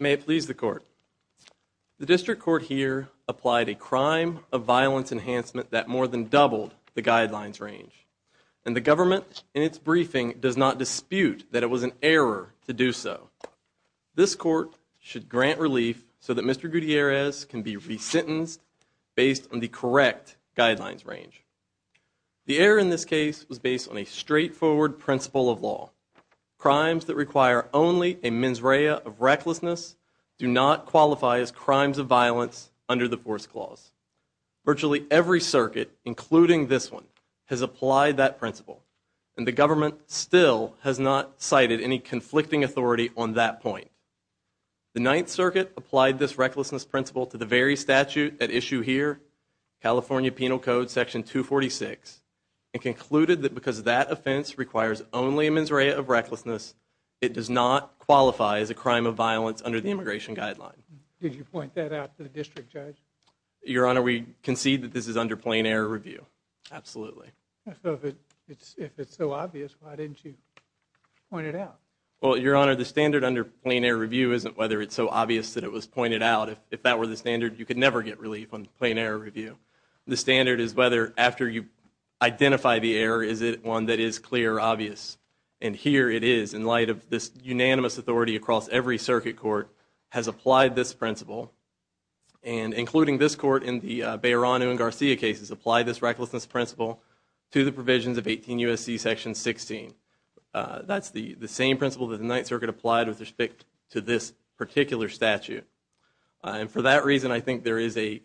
May it please the court. The district court here applied a crime of violence enhancement that more than doubled the guidelines range and the government in its briefing does not dispute that it was an error to do so. This court should grant relief so that Mr. Gutierrez can be re-sentenced based on the correct guidelines range. The error in this case was based on a straightforward principle of law. Crimes that require only a mens rea of recklessness do not qualify as crimes of violence under the Force Clause. Virtually every circuit including this one has applied that principle and the government still has not cited any conflicting authority on that point. The Ninth Circuit applied this recklessness principle to the very statute at issue here California Penal Code section 246 and concluded that because of that offense requires only a mens rea of recklessness it does not qualify as a crime of violence under the immigration guideline. Did you point that out to the district judge? Your Honor we concede that this is under plain error review. Absolutely. If it's so obvious why didn't you point it out? Well Your Honor the standard under plain error review isn't whether it's so obvious that it was pointed out if that were the standard you could never get relief on plain error review. The standard is whether after you identify the error is it one that is clear obvious and here it is in light of this unanimous authority across every circuit court has applied this principle and including this court in the Beiranu and Garcia cases applied this recklessness principle to the provisions of 18 U.S.C. section 16. That's the the same principle that the Ninth Circuit applied with respect to this particular statute and for that reason I think there is a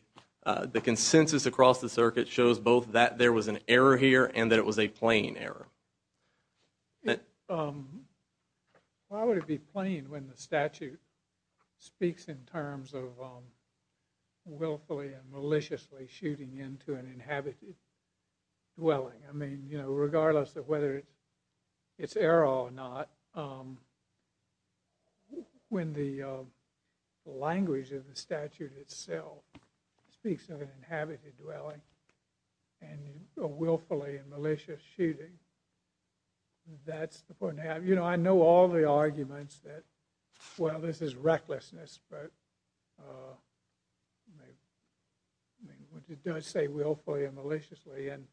the consensus across the circuit shows both that there was an error here and that it was a plain error. Why would it be plain when the statute speaks in terms of willfully and maliciously shooting into an inhabited dwelling? I mean you know regardless of whether it's error or not when the language of the statute itself speaks of and willfully and malicious shooting that's the point. You know I know all the arguments that well this is recklessness but I mean what you don't say willfully and maliciously and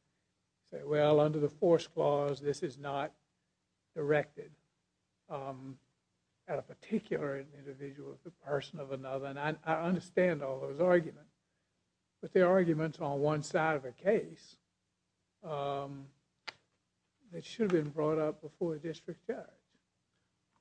say well under the force clause this is not directed at a particular individual of the person of another and I understand all those arguments but the arguments on one side of a case it should have been brought up before the district judge.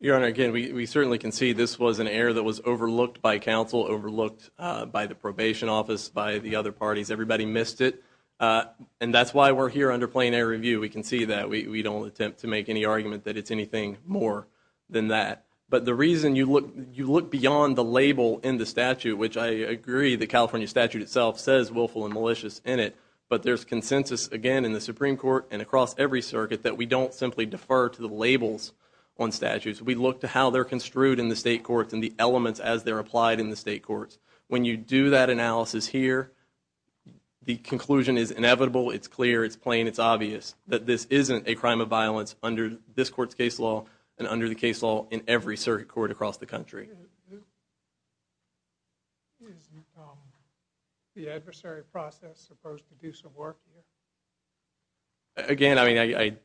Your honor again we certainly can see this was an error that was overlooked by counsel overlooked by the probation office by the other parties everybody missed it and that's why we're here under plain air review we can see that we don't attempt to make any argument that it's anything more than that but the reason you look you look beyond the label in the statute which I agree the California statute itself says willful and malicious in it but there's consensus again in the Supreme Court and across every circuit that we don't simply defer to the labels on statutes we look to how they're construed in the state courts and the elements as they're applied in the state courts when you do that analysis here the conclusion is inevitable it's clear it's plain it's obvious that this isn't a crime of violence under this court's law and under the case law in every circuit court across the country again I mean I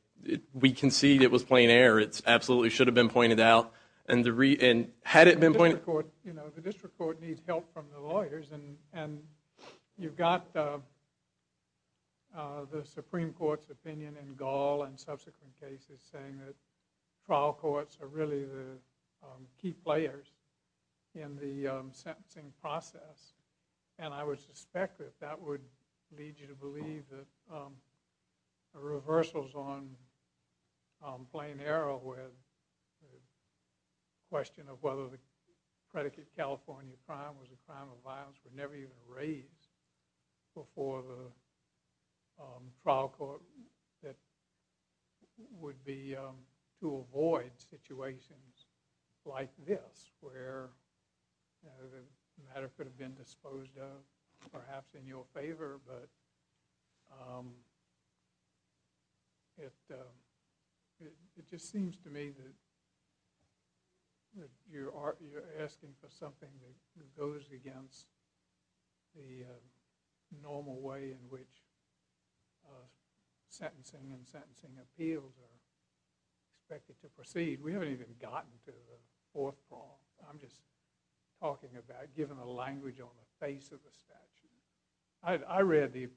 we concede it was plain air it's absolutely should have been pointed out and the reason had it been pointed court you know the district court needs help from the lawyers and and you've got the Supreme Court's opinion in Gaul and trial courts are really the key players in the sentencing process and I would suspect that that would lead you to believe that the reversals on playing arrow with question of whether the predicate California crime was a crime were never even raised before the trial court that would be to avoid situations like this where the matter could have been disposed of perhaps in your favor but it it just seems to me that you are asking for something that goes against the normal way in which sentencing and sentencing appeals are expected to proceed we haven't even gotten to the fourth problem I'm just talking about giving a language on the face of the statute I read the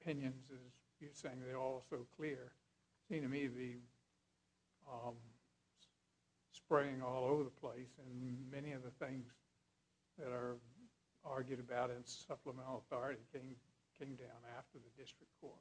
opinions as you're saying they're all so clear seem to me the spraying all over the place and many of the things that are argued about in supplemental authority thing came down after the district court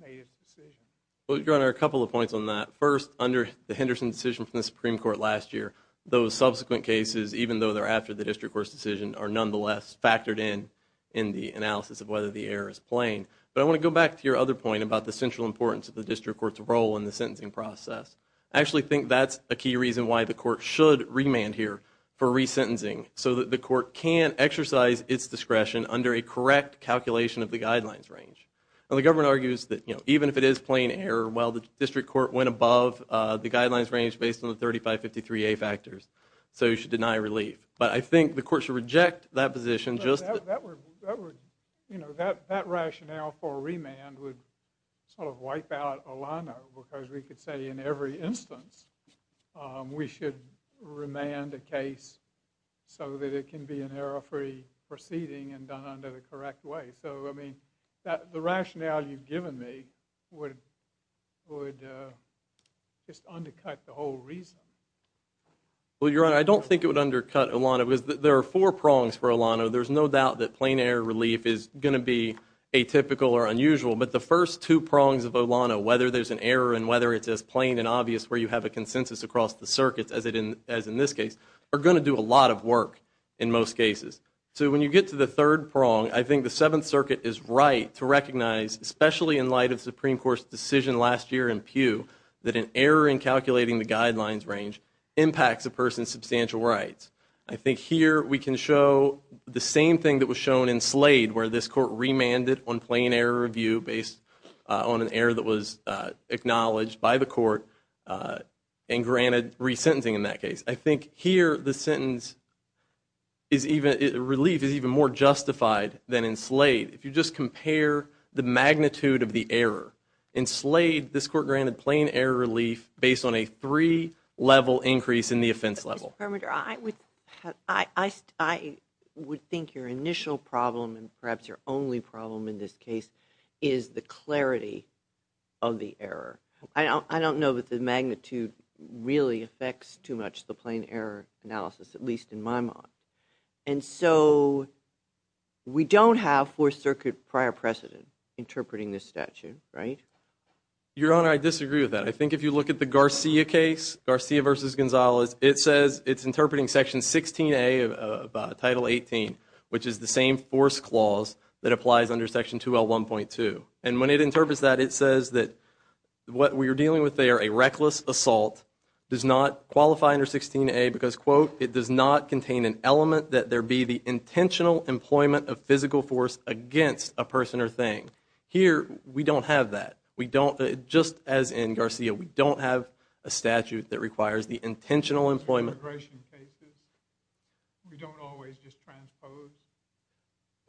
made a decision well you're on our couple of points on that first under the Henderson decision from the Supreme Court last year those subsequent cases even though they're after the district court's decision are nonetheless factored in in the analysis of whether the air is playing but I want to go back to your other point about the central importance of the district court's role in the sentencing process I actually think that's a key reason why the court should remand here for resentencing so that the court can exercise its discretion under a correct calculation of the guidelines range the government argues that you know even if it is plain air well the district court went above the guidelines range based on the 3553 a factors so you should deny relief but I think the court should reject that position just you know that that rationale for remand would sort of wipe out Alana because we could say in every instance we should remand a case so that it can be an error free proceeding and done under the correct way so I mean that the rationale you've given me would would just undercut the whole reason well your honor I don't think it would undercut Alana was that there are four prongs for Alana there's no doubt that plain air relief is going to be a typical or unusual but the first two prongs of Alana whether there's an error and whether it's as plain and obvious where you have a consensus across the circuits as it in as in this case are going to do a lot of work in most cases so when you get to the third prong I think the Seventh Circuit is right to recognize especially in light of Supreme Court's decision last year in pew that an error in calculating the guidelines range impacts a person's substantial rights I think here we can show the same thing that was shown in Slade where this court remanded on plain air review based on an error that was acknowledged by the court and granted resentencing in that case I think here the sentence is even relief is even more justified than in Slade if you just compare the magnitude of the error in Slade this court granted plain air relief based on a three level increase in the offense level I would I would think your initial problem and perhaps your only problem in this case is the clarity of the error I don't know that the magnitude really affects too much the plain error analysis at least in my mind and so we don't have four circuit prior precedent interpreting this statute right your honor I disagree with that I think if you look at the Garcia case Garcia versus Gonzalez it says it's interpreting section 16a of title 18 which is the same force clause that applies under section 2l 1.2 and when it interprets that it says that what we are dealing with they are a reckless assault does not qualify under 16a because quote it does not contain an element that there be the intentional employment of physical force against a person or thing here we don't have that we don't just as in Garcia we don't have a statute that requires the intentional employment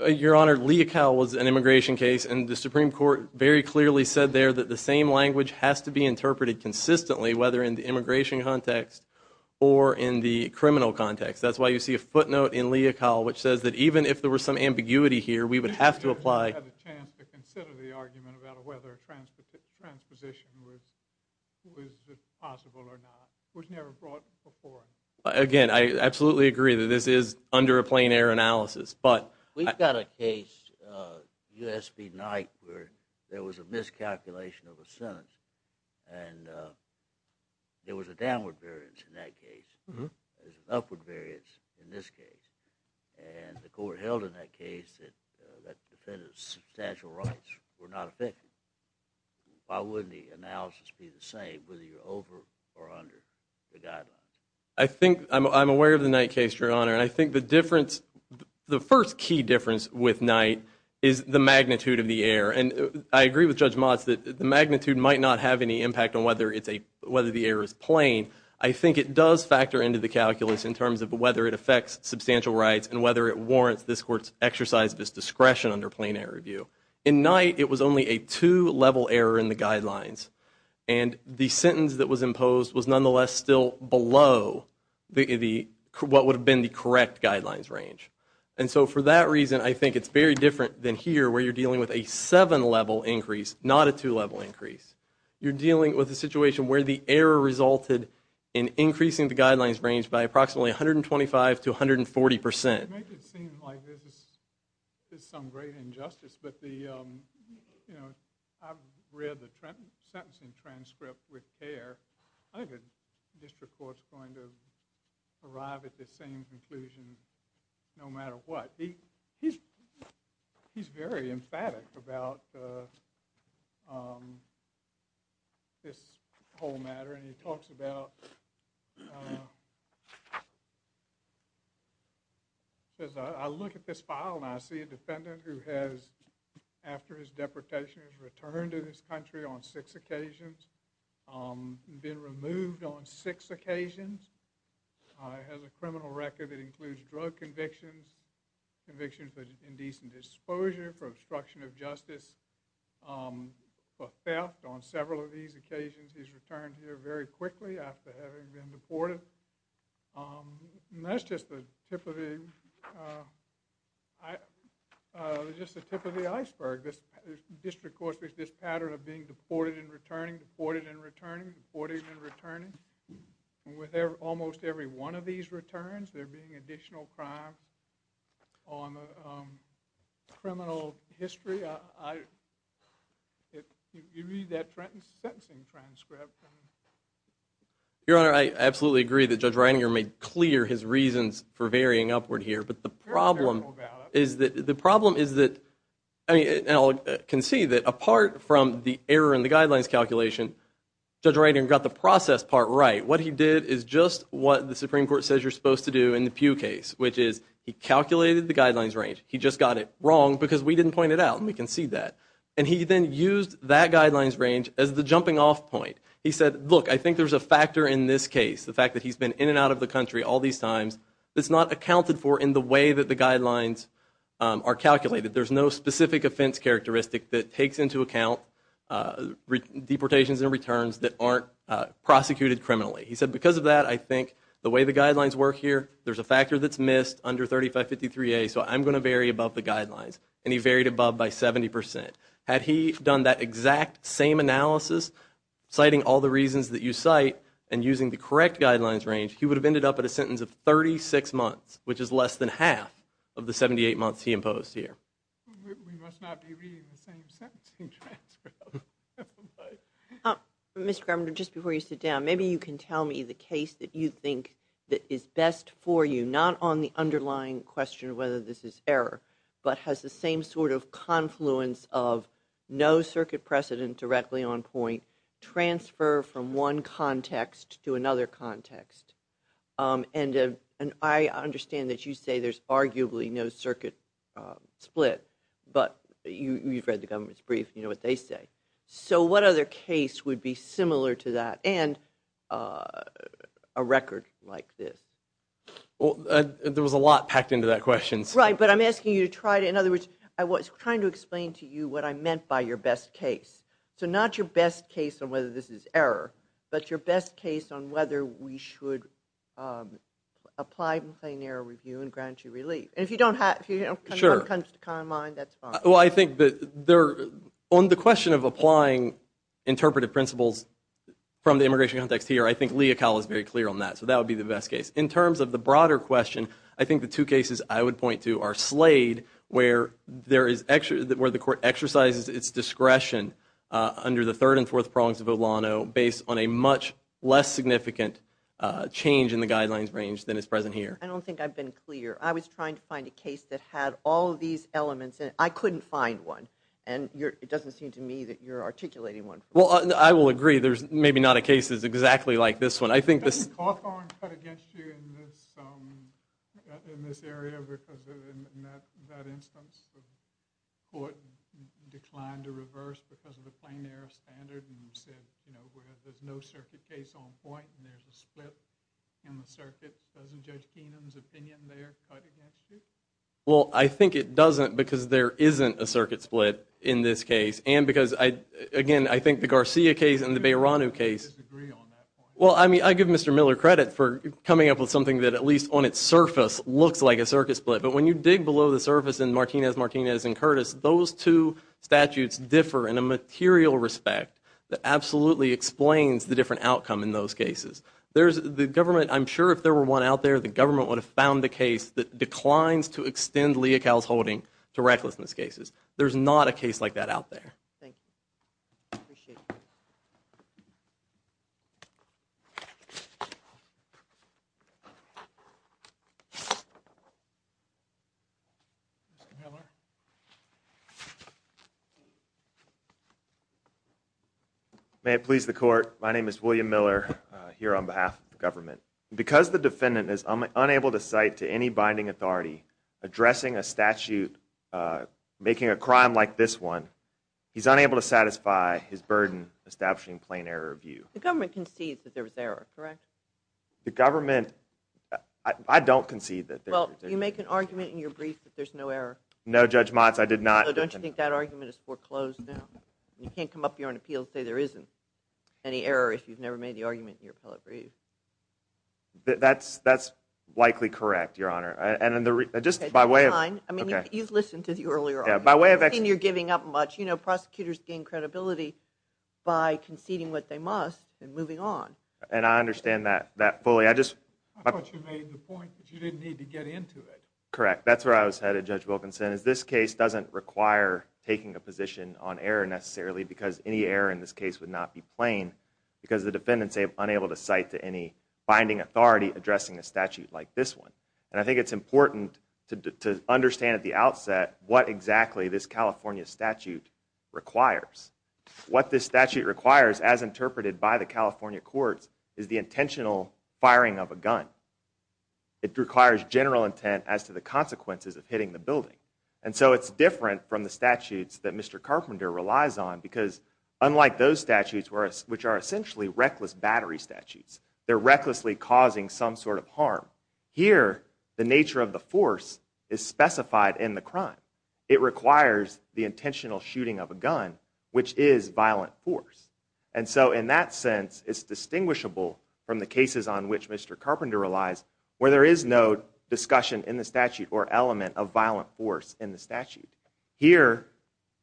your honor Leocal was an immigration case and the Supreme Court very clearly said there that the same language has to be interpreted consistently whether in the immigration context or in the criminal context that's why you see a footnote in Leocal which says that even if there was some ambiguity here we would have to apply again I absolutely agree that this is under a plain-air analysis but we've got a case USB night where there was a miscalculation of a sentence and there was a downward variance in that case there's an upward variance in this case and the court held in that case that that defendant's substantial rights were why wouldn't the analysis be the same whether you're over or under the guidelines I think I'm aware of the night case your honor and I think the difference the first key difference with night is the magnitude of the air and I agree with judge Mott's that the magnitude might not have any impact on whether it's a whether the air is plain I think it does factor into the calculus in terms of whether it affects substantial rights and whether it warrants this courts exercise this discretion under plain air review in night it was only a two-level error in the guidelines and the sentence that was imposed was nonetheless still below the what would have been the correct guidelines range and so for that reason I think it's very different than here where you're dealing with a seven-level increase not a two-level increase you're dealing with a situation where the air resulted in increasing the guidelines range by approximately 125 to 140 percent some great injustice but the you know I've read the Trenton sentencing transcript with air I could district courts going to arrive at the same conclusion no matter what he he's he's very emphatic about this whole matter and he talks about as I look at this file and I see a defendant who has after his deportation has returned to this country on six occasions been removed on six occasions has a criminal record that includes drug convictions convictions but indecent exposure for obstruction of justice for theft on several of these he's returned here very quickly after having been deported that's just the tip of the just the tip of the iceberg this district course with this pattern of being deported and returning deported and returning 40s and returning with their almost every one of these returns there being additional crime on the history your honor I absolutely agree that judge Reininger made clear his reasons for varying upward here but the problem is that the problem is that I can see that apart from the error in the guidelines calculation judge writing got the process part right what he did is just what the Supreme Court says you're supposed to do in the pew case which is he calculated the guidelines range he just got it wrong because we didn't point it out and we can see that and he then used that guidelines range as the jumping-off point he said look I think there's a factor in this case the fact that he's been in and out of the country all these times it's not accounted for in the way that the guidelines are calculated there's no specific offense characteristic that takes into account with deportations and returns that aren't prosecuted criminally he said because of that I think the way the guidelines work here there's a factor that's missed under 3553 a so I'm going to vary above the guidelines and he varied above by 70% had he done that exact same analysis citing all the reasons that you cite and using the correct guidelines range he would have ended up at a sentence of 36 months which is less than half of the 78 months he imposed here mr. governor just before you sit down maybe you can tell me the case that you think that is best for you not on the underlying question whether this is error but has the same sort of confluence of no circuit precedent directly on point transfer from one context to another context and and I understand that you say there's arguably no circuit split but you've read the government's brief you know what they say so what other case would be similar to that and a record like this there was a lot packed into that questions right but I'm asking you to try to in other words I was trying to explain to you what I meant by your best case so not your best case on whether this is error but your best case on whether we should apply the plane air review and grant you relief if you don't have you know sure comes to calm mind that's well I think that they're on the question of applying interpretive principles from the immigration context here I think Lea Kyle is very clear on that so that would be the best case in terms of the broader question I think the two cases I would point to are slayed where there is actually that where the court exercises its discretion under the third and fourth prongs of Olano based on a much less significant change in the guidelines range than is present here I don't think I've been clear I was trying to find a case that had all these elements and I couldn't find one and you're it doesn't seem to me that you're articulating one well I will agree there's maybe not a case is exactly like this one I think this well I think it doesn't because there isn't a circuit split in this case and because I again I think the Garcia case and the Bayron new case well I mean I give mr. Miller credit for coming up with something that at least on its surface looks like a circuit split but when you dig below the surface in Martinez Martinez and Curtis those two statutes differ in a material respect that absolutely explains the different outcome in those cases there's the government I'm sure if there were one out there the government would have found the case that declines to extend Lea cows holding to recklessness cases there's not a case like that out there may it please the court my name is William Miller here on behalf of the government because the defendant is unable to cite to any binding authority addressing a statute making a crime like this one he's unable to satisfy his burden establishing plain error of you the government concedes that there was error correct the government I don't concede that well you make an argument in your brief that there's no error no judge Mott's I did not don't you think that argument is foreclosed now you can't come up here on appeal say there isn't any error if you've never made the argument in your appellate brief that's likely correct your honor and in the just by way of you're giving up much you know prosecutors gain credibility by conceding what they must and moving on and I understand that that fully I just correct that's where I was headed judge Wilkinson is this case doesn't require taking a position on error necessarily because any error in this case would not be plain because the defendants able to cite to any binding authority addressing a statute like this one and I think it's important to understand at the outset what exactly this California statute requires what this statute requires as interpreted by the California courts is the intentional firing of a gun it requires general intent as to the consequences of hitting the building and so it's different from the statutes that mr. Carpenter relies on because unlike those statutes were which are essentially reckless battery statutes they're recklessly causing some sort of harm here the nature of the force is specified in the crime it requires the intentional shooting of a gun which is violent force and so in that sense it's distinguishable from the cases on which mr. Carpenter relies where there is no discussion in the statute or element of violent force in the statute here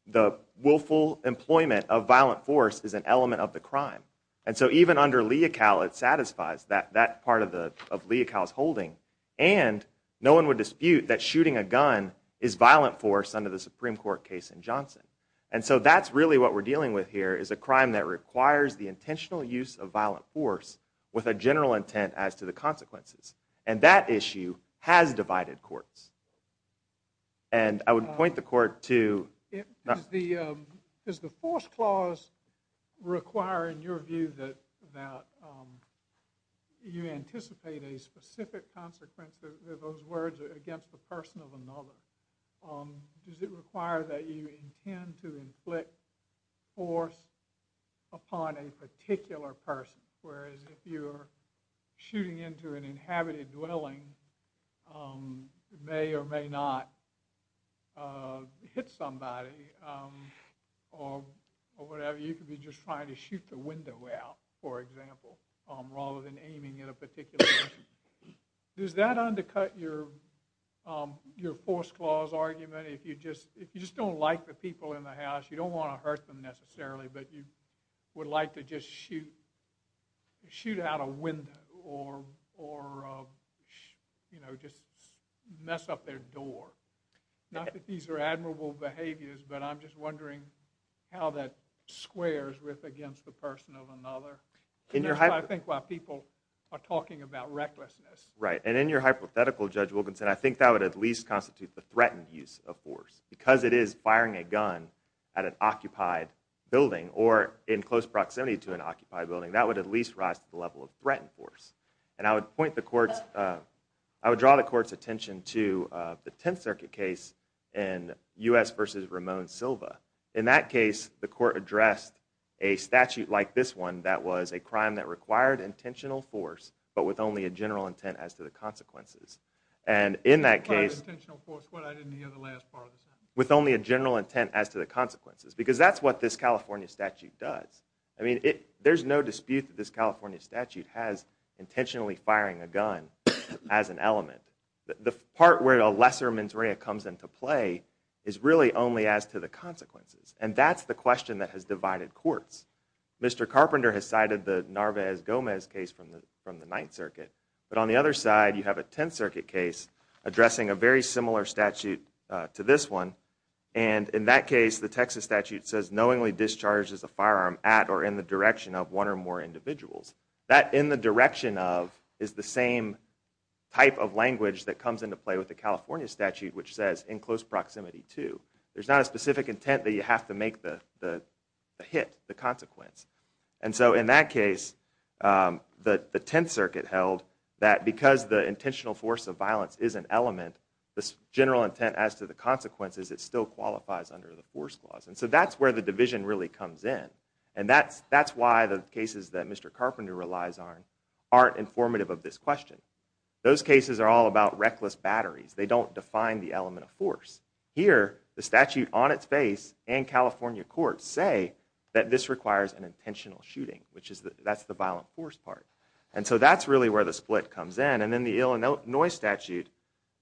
the willful employment of violent force is an element of the crime and so even under Leocal it satisfies that that part of the of Leocal's holding and no one would dispute that shooting a gun is violent force under the Supreme Court case in Johnson and so that's really what we're dealing with here is a crime that requires the intentional use of violent force with a general intent as to the consequences and that issue has divided courts and I would point the court to is the force clause requiring your view that that you anticipate a specific consequence of those words against the person of another does it require that you intend to inflict force upon a shooting into an inhabited dwelling may or may not hit somebody or whatever you could be just trying to shoot the window out for example rather than aiming at a particular does that undercut your your force clause argument if you just if you just don't like the people in the house you don't want to hurt them necessarily but you would like to just shoot shoot out a window or or you know just mess up their door not that these are admirable behaviors but I'm just wondering how that squares with against the person of another in your head I think what people are talking about recklessness right and in your hypothetical judge Wilkinson I think that would at least constitute the threatened use of force because it is firing a gun at an occupied building or in close proximity to an occupied building that would at least rise to the level of threatened force and I would point the court's I would draw the court's attention to the 10th Circuit case in US versus Ramon Silva in that case the court addressed a statute like this one that was a crime that required intentional force but with only a consequences because that's what this California statute does I mean it there's no dispute this California statute has intentionally firing a gun as an element the part where a lesser mens rea comes into play is really only as to the consequences and that's the question that has divided courts Mr. Carpenter has cited the Narvaez Gomez case from the from the 9th Circuit but on the other side you have a 10th Circuit case addressing a very similar statute to this one and in that case the Texas statute says knowingly discharges a firearm at or in the direction of one or more individuals that in the direction of is the same type of language that comes into play with the California statute which says in close proximity to there's not a specific intent that you have to make the hit the consequence and so in that case that the 10th Circuit held that because the intentional force of violence is an it still qualifies under the force clause and so that's where the division really comes in and that's that's why the cases that Mr. Carpenter relies on aren't informative of this question those cases are all about reckless batteries they don't define the element of force here the statute on its face and California courts say that this requires an intentional shooting which is that that's the violent force part and so that's really where the split comes in and then the Illinois statute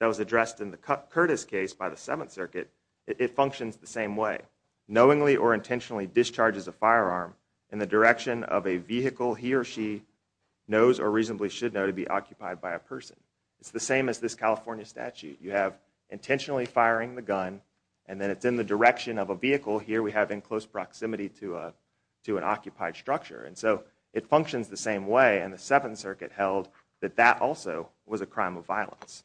that was addressed in the Curtis case by the 7th Circuit it functions the same way knowingly or intentionally discharges a firearm in the direction of a vehicle he or she knows or reasonably should know to be occupied by a person it's the same as this California statute you have intentionally firing the gun and then it's in the direction of a vehicle here we have in close proximity to a to an occupied structure and so it functions the same way and the 7th Circuit held that that also was a crime of violence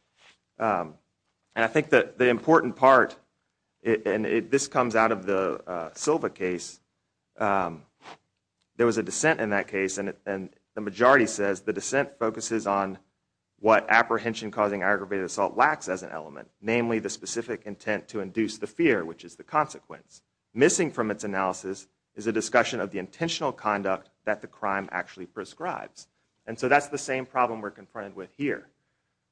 and I think that the important part and it this comes out of the Silva case there was a dissent in that case and it and the majority says the dissent focuses on what apprehension causing aggravated assault lacks as an element namely the specific intent to induce the fear which is the consequence missing from its analysis is a discussion of the intentional conduct that the crime actually prescribes and so that's the same problem we're confronted with here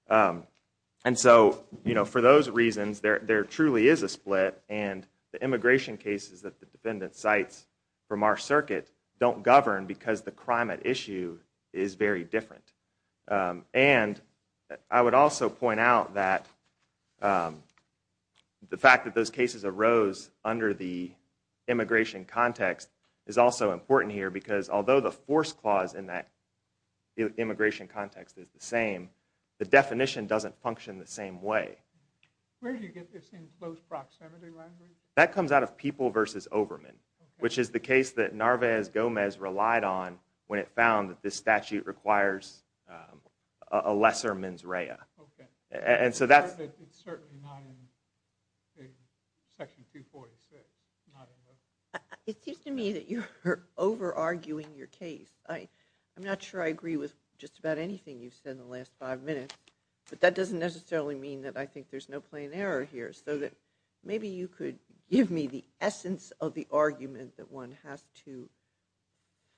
and so you know for those reasons there there truly is a split and the immigration cases that the defendant cites from our circuit don't govern because the crime at issue is very different and I would also point out that the fact that those cases arose under the immigration context is also important here because although the context is the same the definition doesn't function the same way that comes out of people versus overman which is the case that Narvaez Gomez relied on when it found that this statute requires a lesser mens rea and anything you said the last five minutes but that doesn't necessarily mean that I think there's no plain error here so that maybe you could give me the essence of the argument that one has to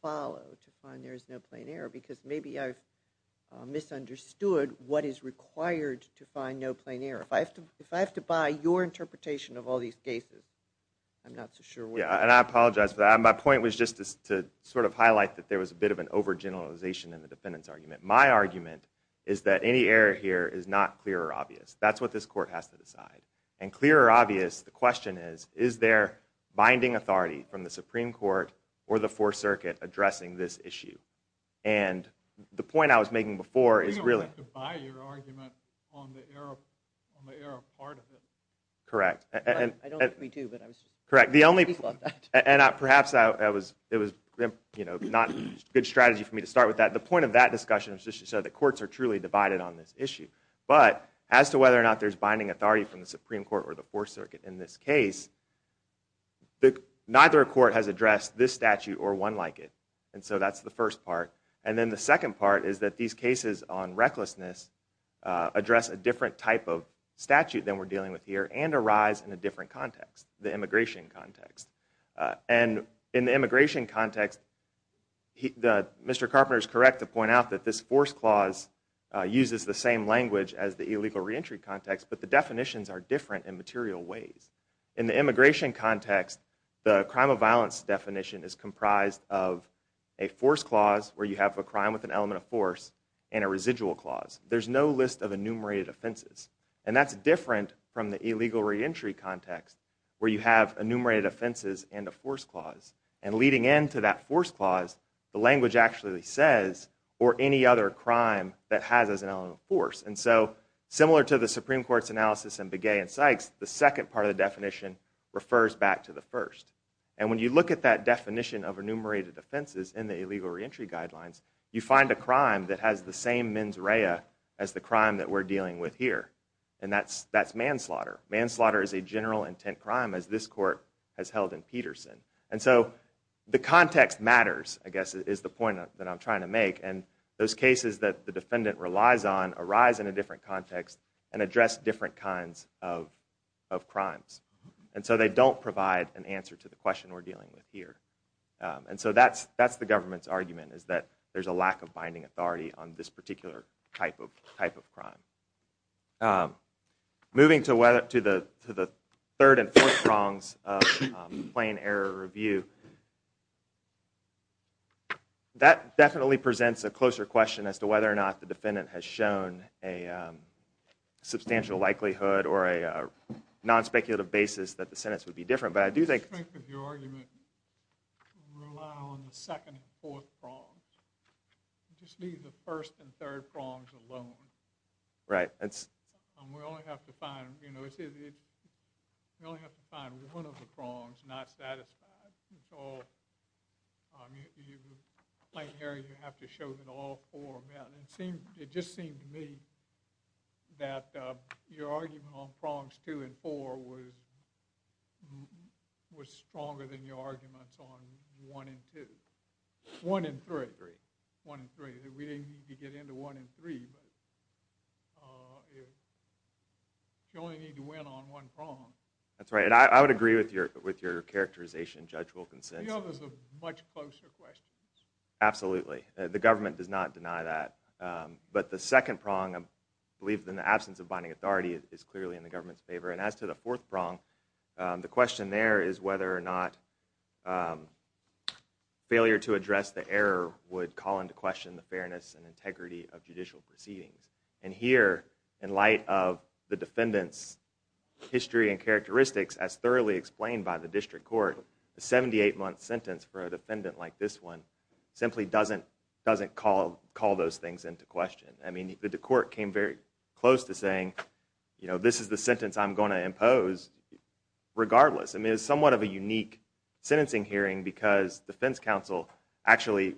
follow to find there is no plain error because maybe I've misunderstood what is required to find no plain error if I have to if I have to buy your interpretation of all these cases I'm not so sure yeah and I apologize but my point was just to sort of highlight that there was a bit of an over generalization in the defendant's argument my argument is that any error here is not clear or obvious that's what this court has to decide and clear or obvious the question is is there binding authority from the Supreme Court or the Fourth Circuit addressing this issue and the point I was making before is really correct and correct the only thought that and I perhaps I was it was you know not good strategy for me to start with that the point of that discussion so the courts are truly divided on this issue but as to whether or not there's binding authority from the Supreme Court or the Fourth Circuit in this case the neither a court has addressed this statute or one like it and so that's the first part and then the second part is that these cases on recklessness address a different type of statute than we're dealing with here and arise in a different context the immigration context and in the immigration context the mr. Carpenter is correct to point out that this force clause uses the same language as the illegal reentry context but the definitions are different in material ways in the immigration context the force clause where you have a crime with an element of force and a residual clause there's no list of enumerated offenses and that's different from the illegal reentry context where you have enumerated offenses and a force clause and leading into that force clause the language actually says or any other crime that has as an element of force and so similar to the Supreme Court's analysis and Begay and Sykes the second part of the definition refers back to the first and when you look at that definition of enumerated offenses in the illegal reentry guidelines you find a crime that has the same mens rea as the crime that we're dealing with here and that's that's manslaughter manslaughter is a general intent crime as this court has held in Peterson and so the context matters I guess is the point that I'm trying to make and those cases that the defendant relies on arise in a different context and address different kinds of crimes and so they don't provide an answer to the question we're dealing with here and so that's that's the government's argument is that there's a lack of binding authority on this particular type of type of crime. Moving to whether to the third and fourth prongs of plain error review that definitely presents a closer question as to whether or not the defendant has shown a substantial likelihood or a non-speculative basis that the sentence would be different but I do think I agree with your argument to rely on the second and fourth prongs. Just leave the first and third prongs alone. Right. We only have to find one of the prongs not satisfied. It just seemed to me that your argument on prongs two and four was stronger than your arguments on one and two. One and three. One and three. We didn't need to get into one and three but you only need to win on one prong. That's right. I would agree with your characterization Judge Wilkinson. The others are much closer questions. Absolutely. The government does not deny that. But the second prong I believe in the absence of binding authority is clearly in the government's favor. And as to the fourth prong, the question there is whether or not failure to address the error would call into question the fairness and integrity of judicial proceedings. And here, in light of the defendant's history and characteristics as thoroughly explained by the district court, a 78-month sentence for a defendant like this one simply doesn't call those things into question. I mean, the court came very close to saying, you know, this is the sentence I'm going to impose regardless. I mean, it's somewhat of a unique sentencing hearing because defense counsel actually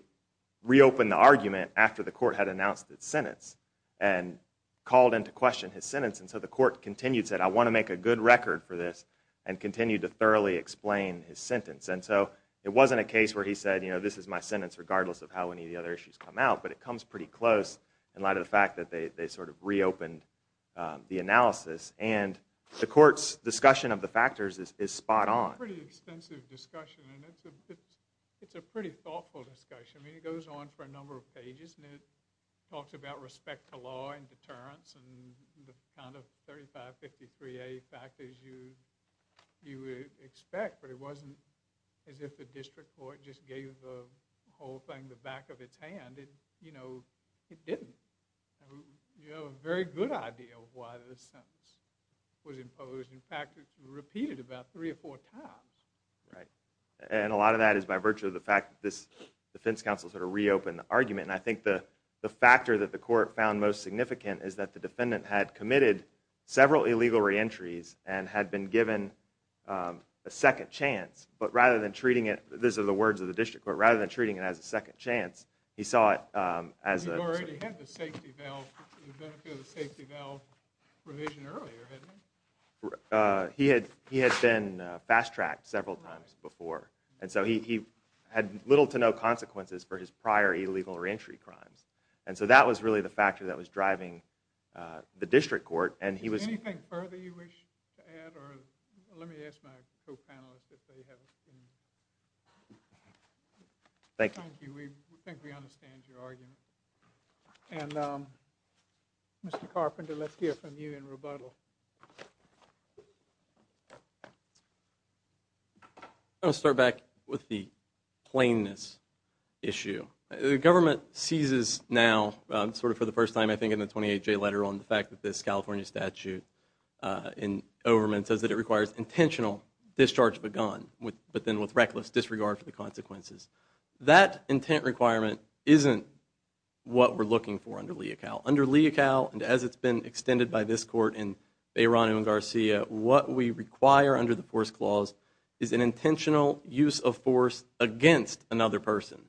reopened the argument after the court had announced its sentence. And called into question his sentence. And so the court continued, said, I want to make a good record for this and continued to thoroughly explain his sentence. And so it wasn't a case where he said, you know, this is my sentence regardless of how any of the other issues come out. But it comes pretty close in light of the fact that they sort of reopened the analysis. And the court's discussion of the factors is spot on. It's a pretty extensive discussion and it's a pretty thoughtful discussion. I mean, it goes on for a number of pages and it talks about respect to law and deterrence and the kind of 3553A factors you would expect. But it wasn't as if the district court just gave the whole thing the back of its hand. You know, it didn't. You have a very good idea of why this sentence was imposed. In fact, it was repeated about three or four times. Right. And a lot of that is by virtue of the fact that this defense counsel sort of reopened the argument. And I think the factor that the court found most significant is that the defendant had committed several illegal reentries and had been given a second chance. But rather than treating it, these are the words of the district court, rather than treating it as a second chance, he saw it as a He already had the safety valve, the benefit of the safety valve revision earlier, didn't he? He had been fast-tracked several times before. And so he had little to no consequences for his prior illegal reentry crimes. And so that was really the factor that was driving the district court. Is there anything further you wish to add? Let me ask my co-panelists if they have anything. Thank you. We think we understand your argument. And Mr. Carpenter, let's hear from you in rebuttal. I'll start back with the plainness issue. The government seizes now, sort of for the first time I think in the 28-J letter, on the fact that this California statute in Overman says that it requires intentional discharge of a gun, but then with reckless disregard for the consequences. That intent requirement isn't what we're looking for under Leocal. Under Leocal, and as it's been extended by this court in Bayron and Garcia, what we require under the force clause is an intentional use of force against another person.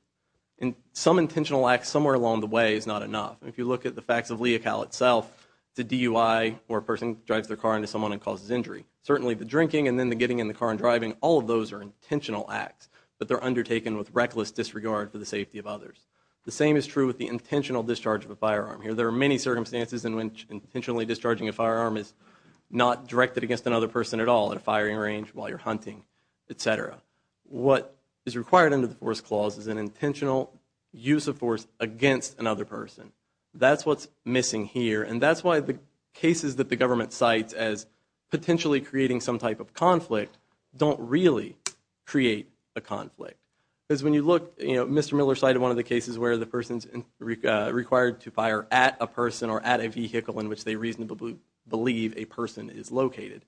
And some intentional acts somewhere along the way is not enough. If you look at the facts of Leocal itself, it's a DUI where a person drives their car into someone and causes injury. Certainly the drinking and then the getting in the car and driving, all of those are intentional acts. But they're undertaken with reckless disregard for the safety of others. The same is true with the intentional discharge of a firearm. There are many circumstances in which intentionally discharging a firearm is not directed against another person at all, at a firing range, while you're hunting, etc. What is required under the force clause is an intentional use of force against another person. That's what's missing here. And that's why the cases that the government cites as potentially creating some type of conflict don't really create a conflict. Mr. Miller cited one of the cases where the person is required to fire at a person or at a vehicle in which they reasonably believe a person is located.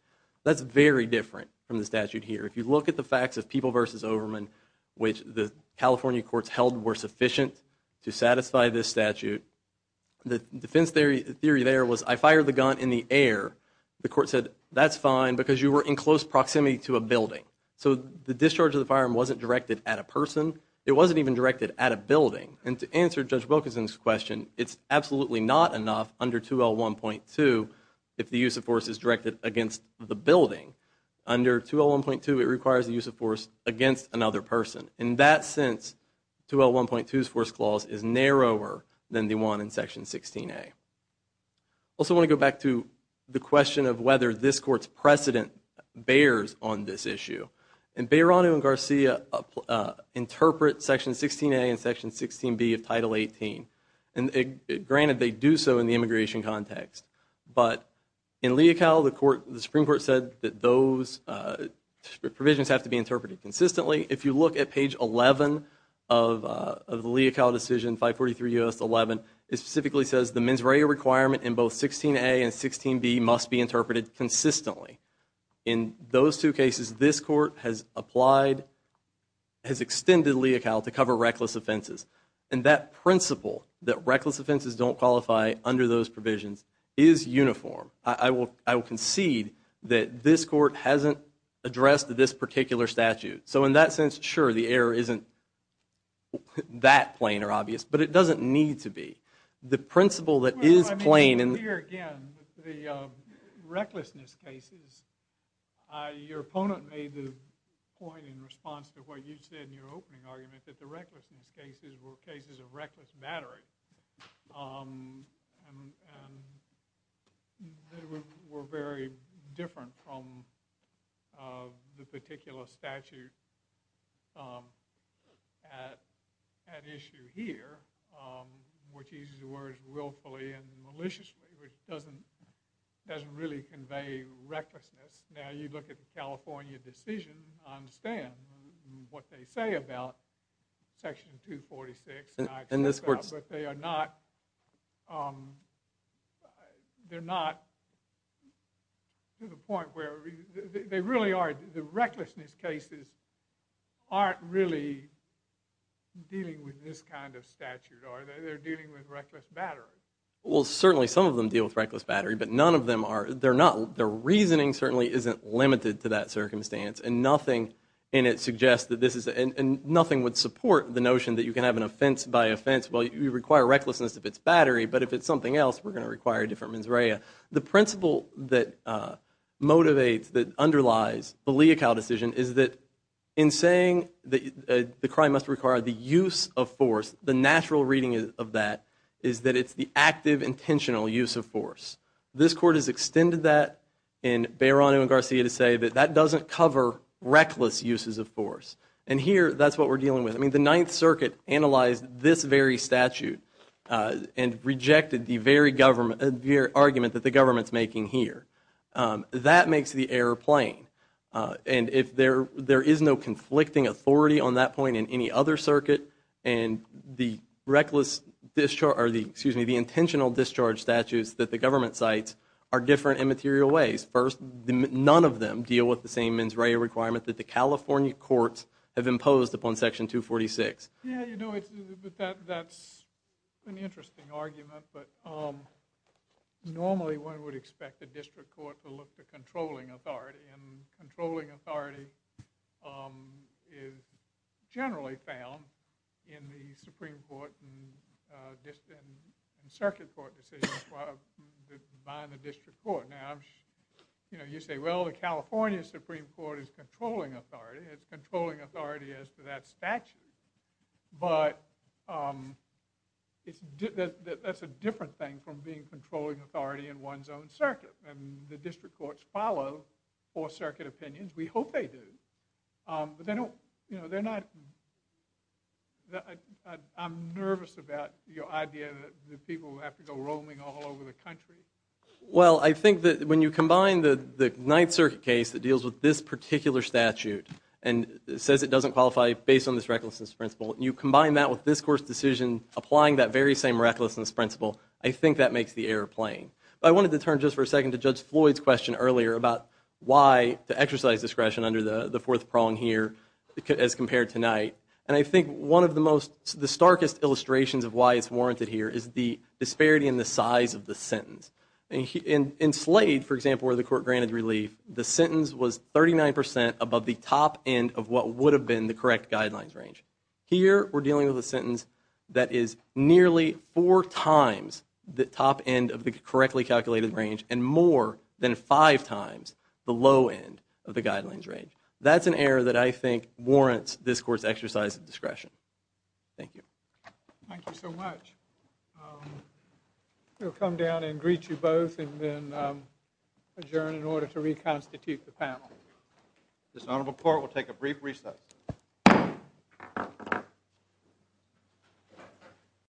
That's very different from the statute here. If you look at the facts of People v. Overman, which the California courts held were sufficient to satisfy this statute, the defense theory there was, I fired the gun in the air. The court said, that's fine because you were in close proximity to a building. So the discharge of the firearm wasn't directed at a person. It wasn't even directed at a building. And to answer Judge Wilkinson's question, it's absolutely not enough under 2L1.2 if the use of force is directed against the building. Under 2L1.2, it requires the use of force against another person. In that sense, 2L1.2's force clause is narrower than the one in Section 16A. I also want to go back to the question of whether this court's precedent bears on this issue. And Beyrano and Garcia interpret Section 16A and Section 16B of Title 18. And granted, they do so in the immigration context. But in Leocal, the Supreme Court said that those provisions have to be interpreted consistently. If you look at page 11 of the Leocal decision, 543 U.S. 11, it specifically says the mens rea requirement in both 16A and 16B must be interpreted consistently. In those two cases, this court has extended Leocal to cover reckless offenses. And that principle, that reckless offenses don't qualify under those provisions, is uniform. I will concede that this court hasn't addressed this particular statute. So in that sense, sure, the error isn't that plain or obvious. But it doesn't need to be. The principle that is plain and... I'm here again with the recklessness cases. Your opponent made the point in response to what you said in your opening argument that the recklessness cases were cases of reckless battery. And they were very different from the particular statute at issue here, which uses the words willfully and maliciously, which doesn't really convey recklessness. Now, you look at the California decision, I understand what they say about Section 246. But they are not... They're not to the point where they really are... The recklessness cases aren't really dealing with this kind of statute, are they? They're dealing with reckless battery. Well, certainly some of them deal with reckless battery, but none of them are... Their reasoning certainly isn't limited to that circumstance. And nothing in it suggests that this is... And nothing would support the notion that you can have an offense by offense. Well, you require recklessness if it's battery. But if it's something else, we're going to require a different mens rea. The principle that motivates, that underlies the Leocal decision is that in saying that the crime must require the use of force, the natural reading of that is that it's the active, intentional use of force. This Court has extended that in Beyrano and Garcia to say that that doesn't cover reckless uses of force. And here, that's what we're dealing with. I mean, the Ninth Circuit analyzed this very statute and rejected the very argument that the government's making here. That makes the error plain. And if there is no conflicting authority on that point in any other circuit, and the reckless discharge... Excuse me, the intentional discharge statutes that the government cites are different in material ways. First, none of them deal with the same mens rea requirement that the California courts have imposed upon Section 246. Yeah, you know, that's an interesting argument. But normally, one would expect the District Court to look to controlling authority. And controlling authority is generally found in the Supreme Court and Circuit Court decisions by the District Court. Now, you know, you say, well, the California Supreme Court is controlling authority. It's controlling authority as to that statute. But that's a different thing from being controlling authority in one's own circuit. And the District Courts follow Fourth Circuit opinions. We hope they do. But they don't, you know, they're not... I'm nervous about your idea that the people have to go roaming all over the country. Well, I think that when you combine the Ninth Circuit case that deals with this particular statute and says it doesn't qualify based on this recklessness principle, and you combine that with this Court's decision applying that very same recklessness principle, I think that makes the error plain. But I wanted to turn just for a second to Judge Floyd's question earlier about why to exercise discretion under the fourth prong here as compared to Knight. And I think one of the starkest illustrations of why it's warranted here is the disparity in the size of the sentence. In Slade, for example, where the court granted relief, the sentence was 39% above the top end of what would have been the correct guidelines range. Here, we're dealing with a sentence that is nearly four times the top end of the correctly calculated range and more than five times the low end of the guidelines range. That's an error that I think warrants this Court's exercise of discretion. Thank you. Thank you so much. Um, we'll come down and greet you both and then, um, adjourn in order to reconstitute the panel. This honorable court will take a brief recess.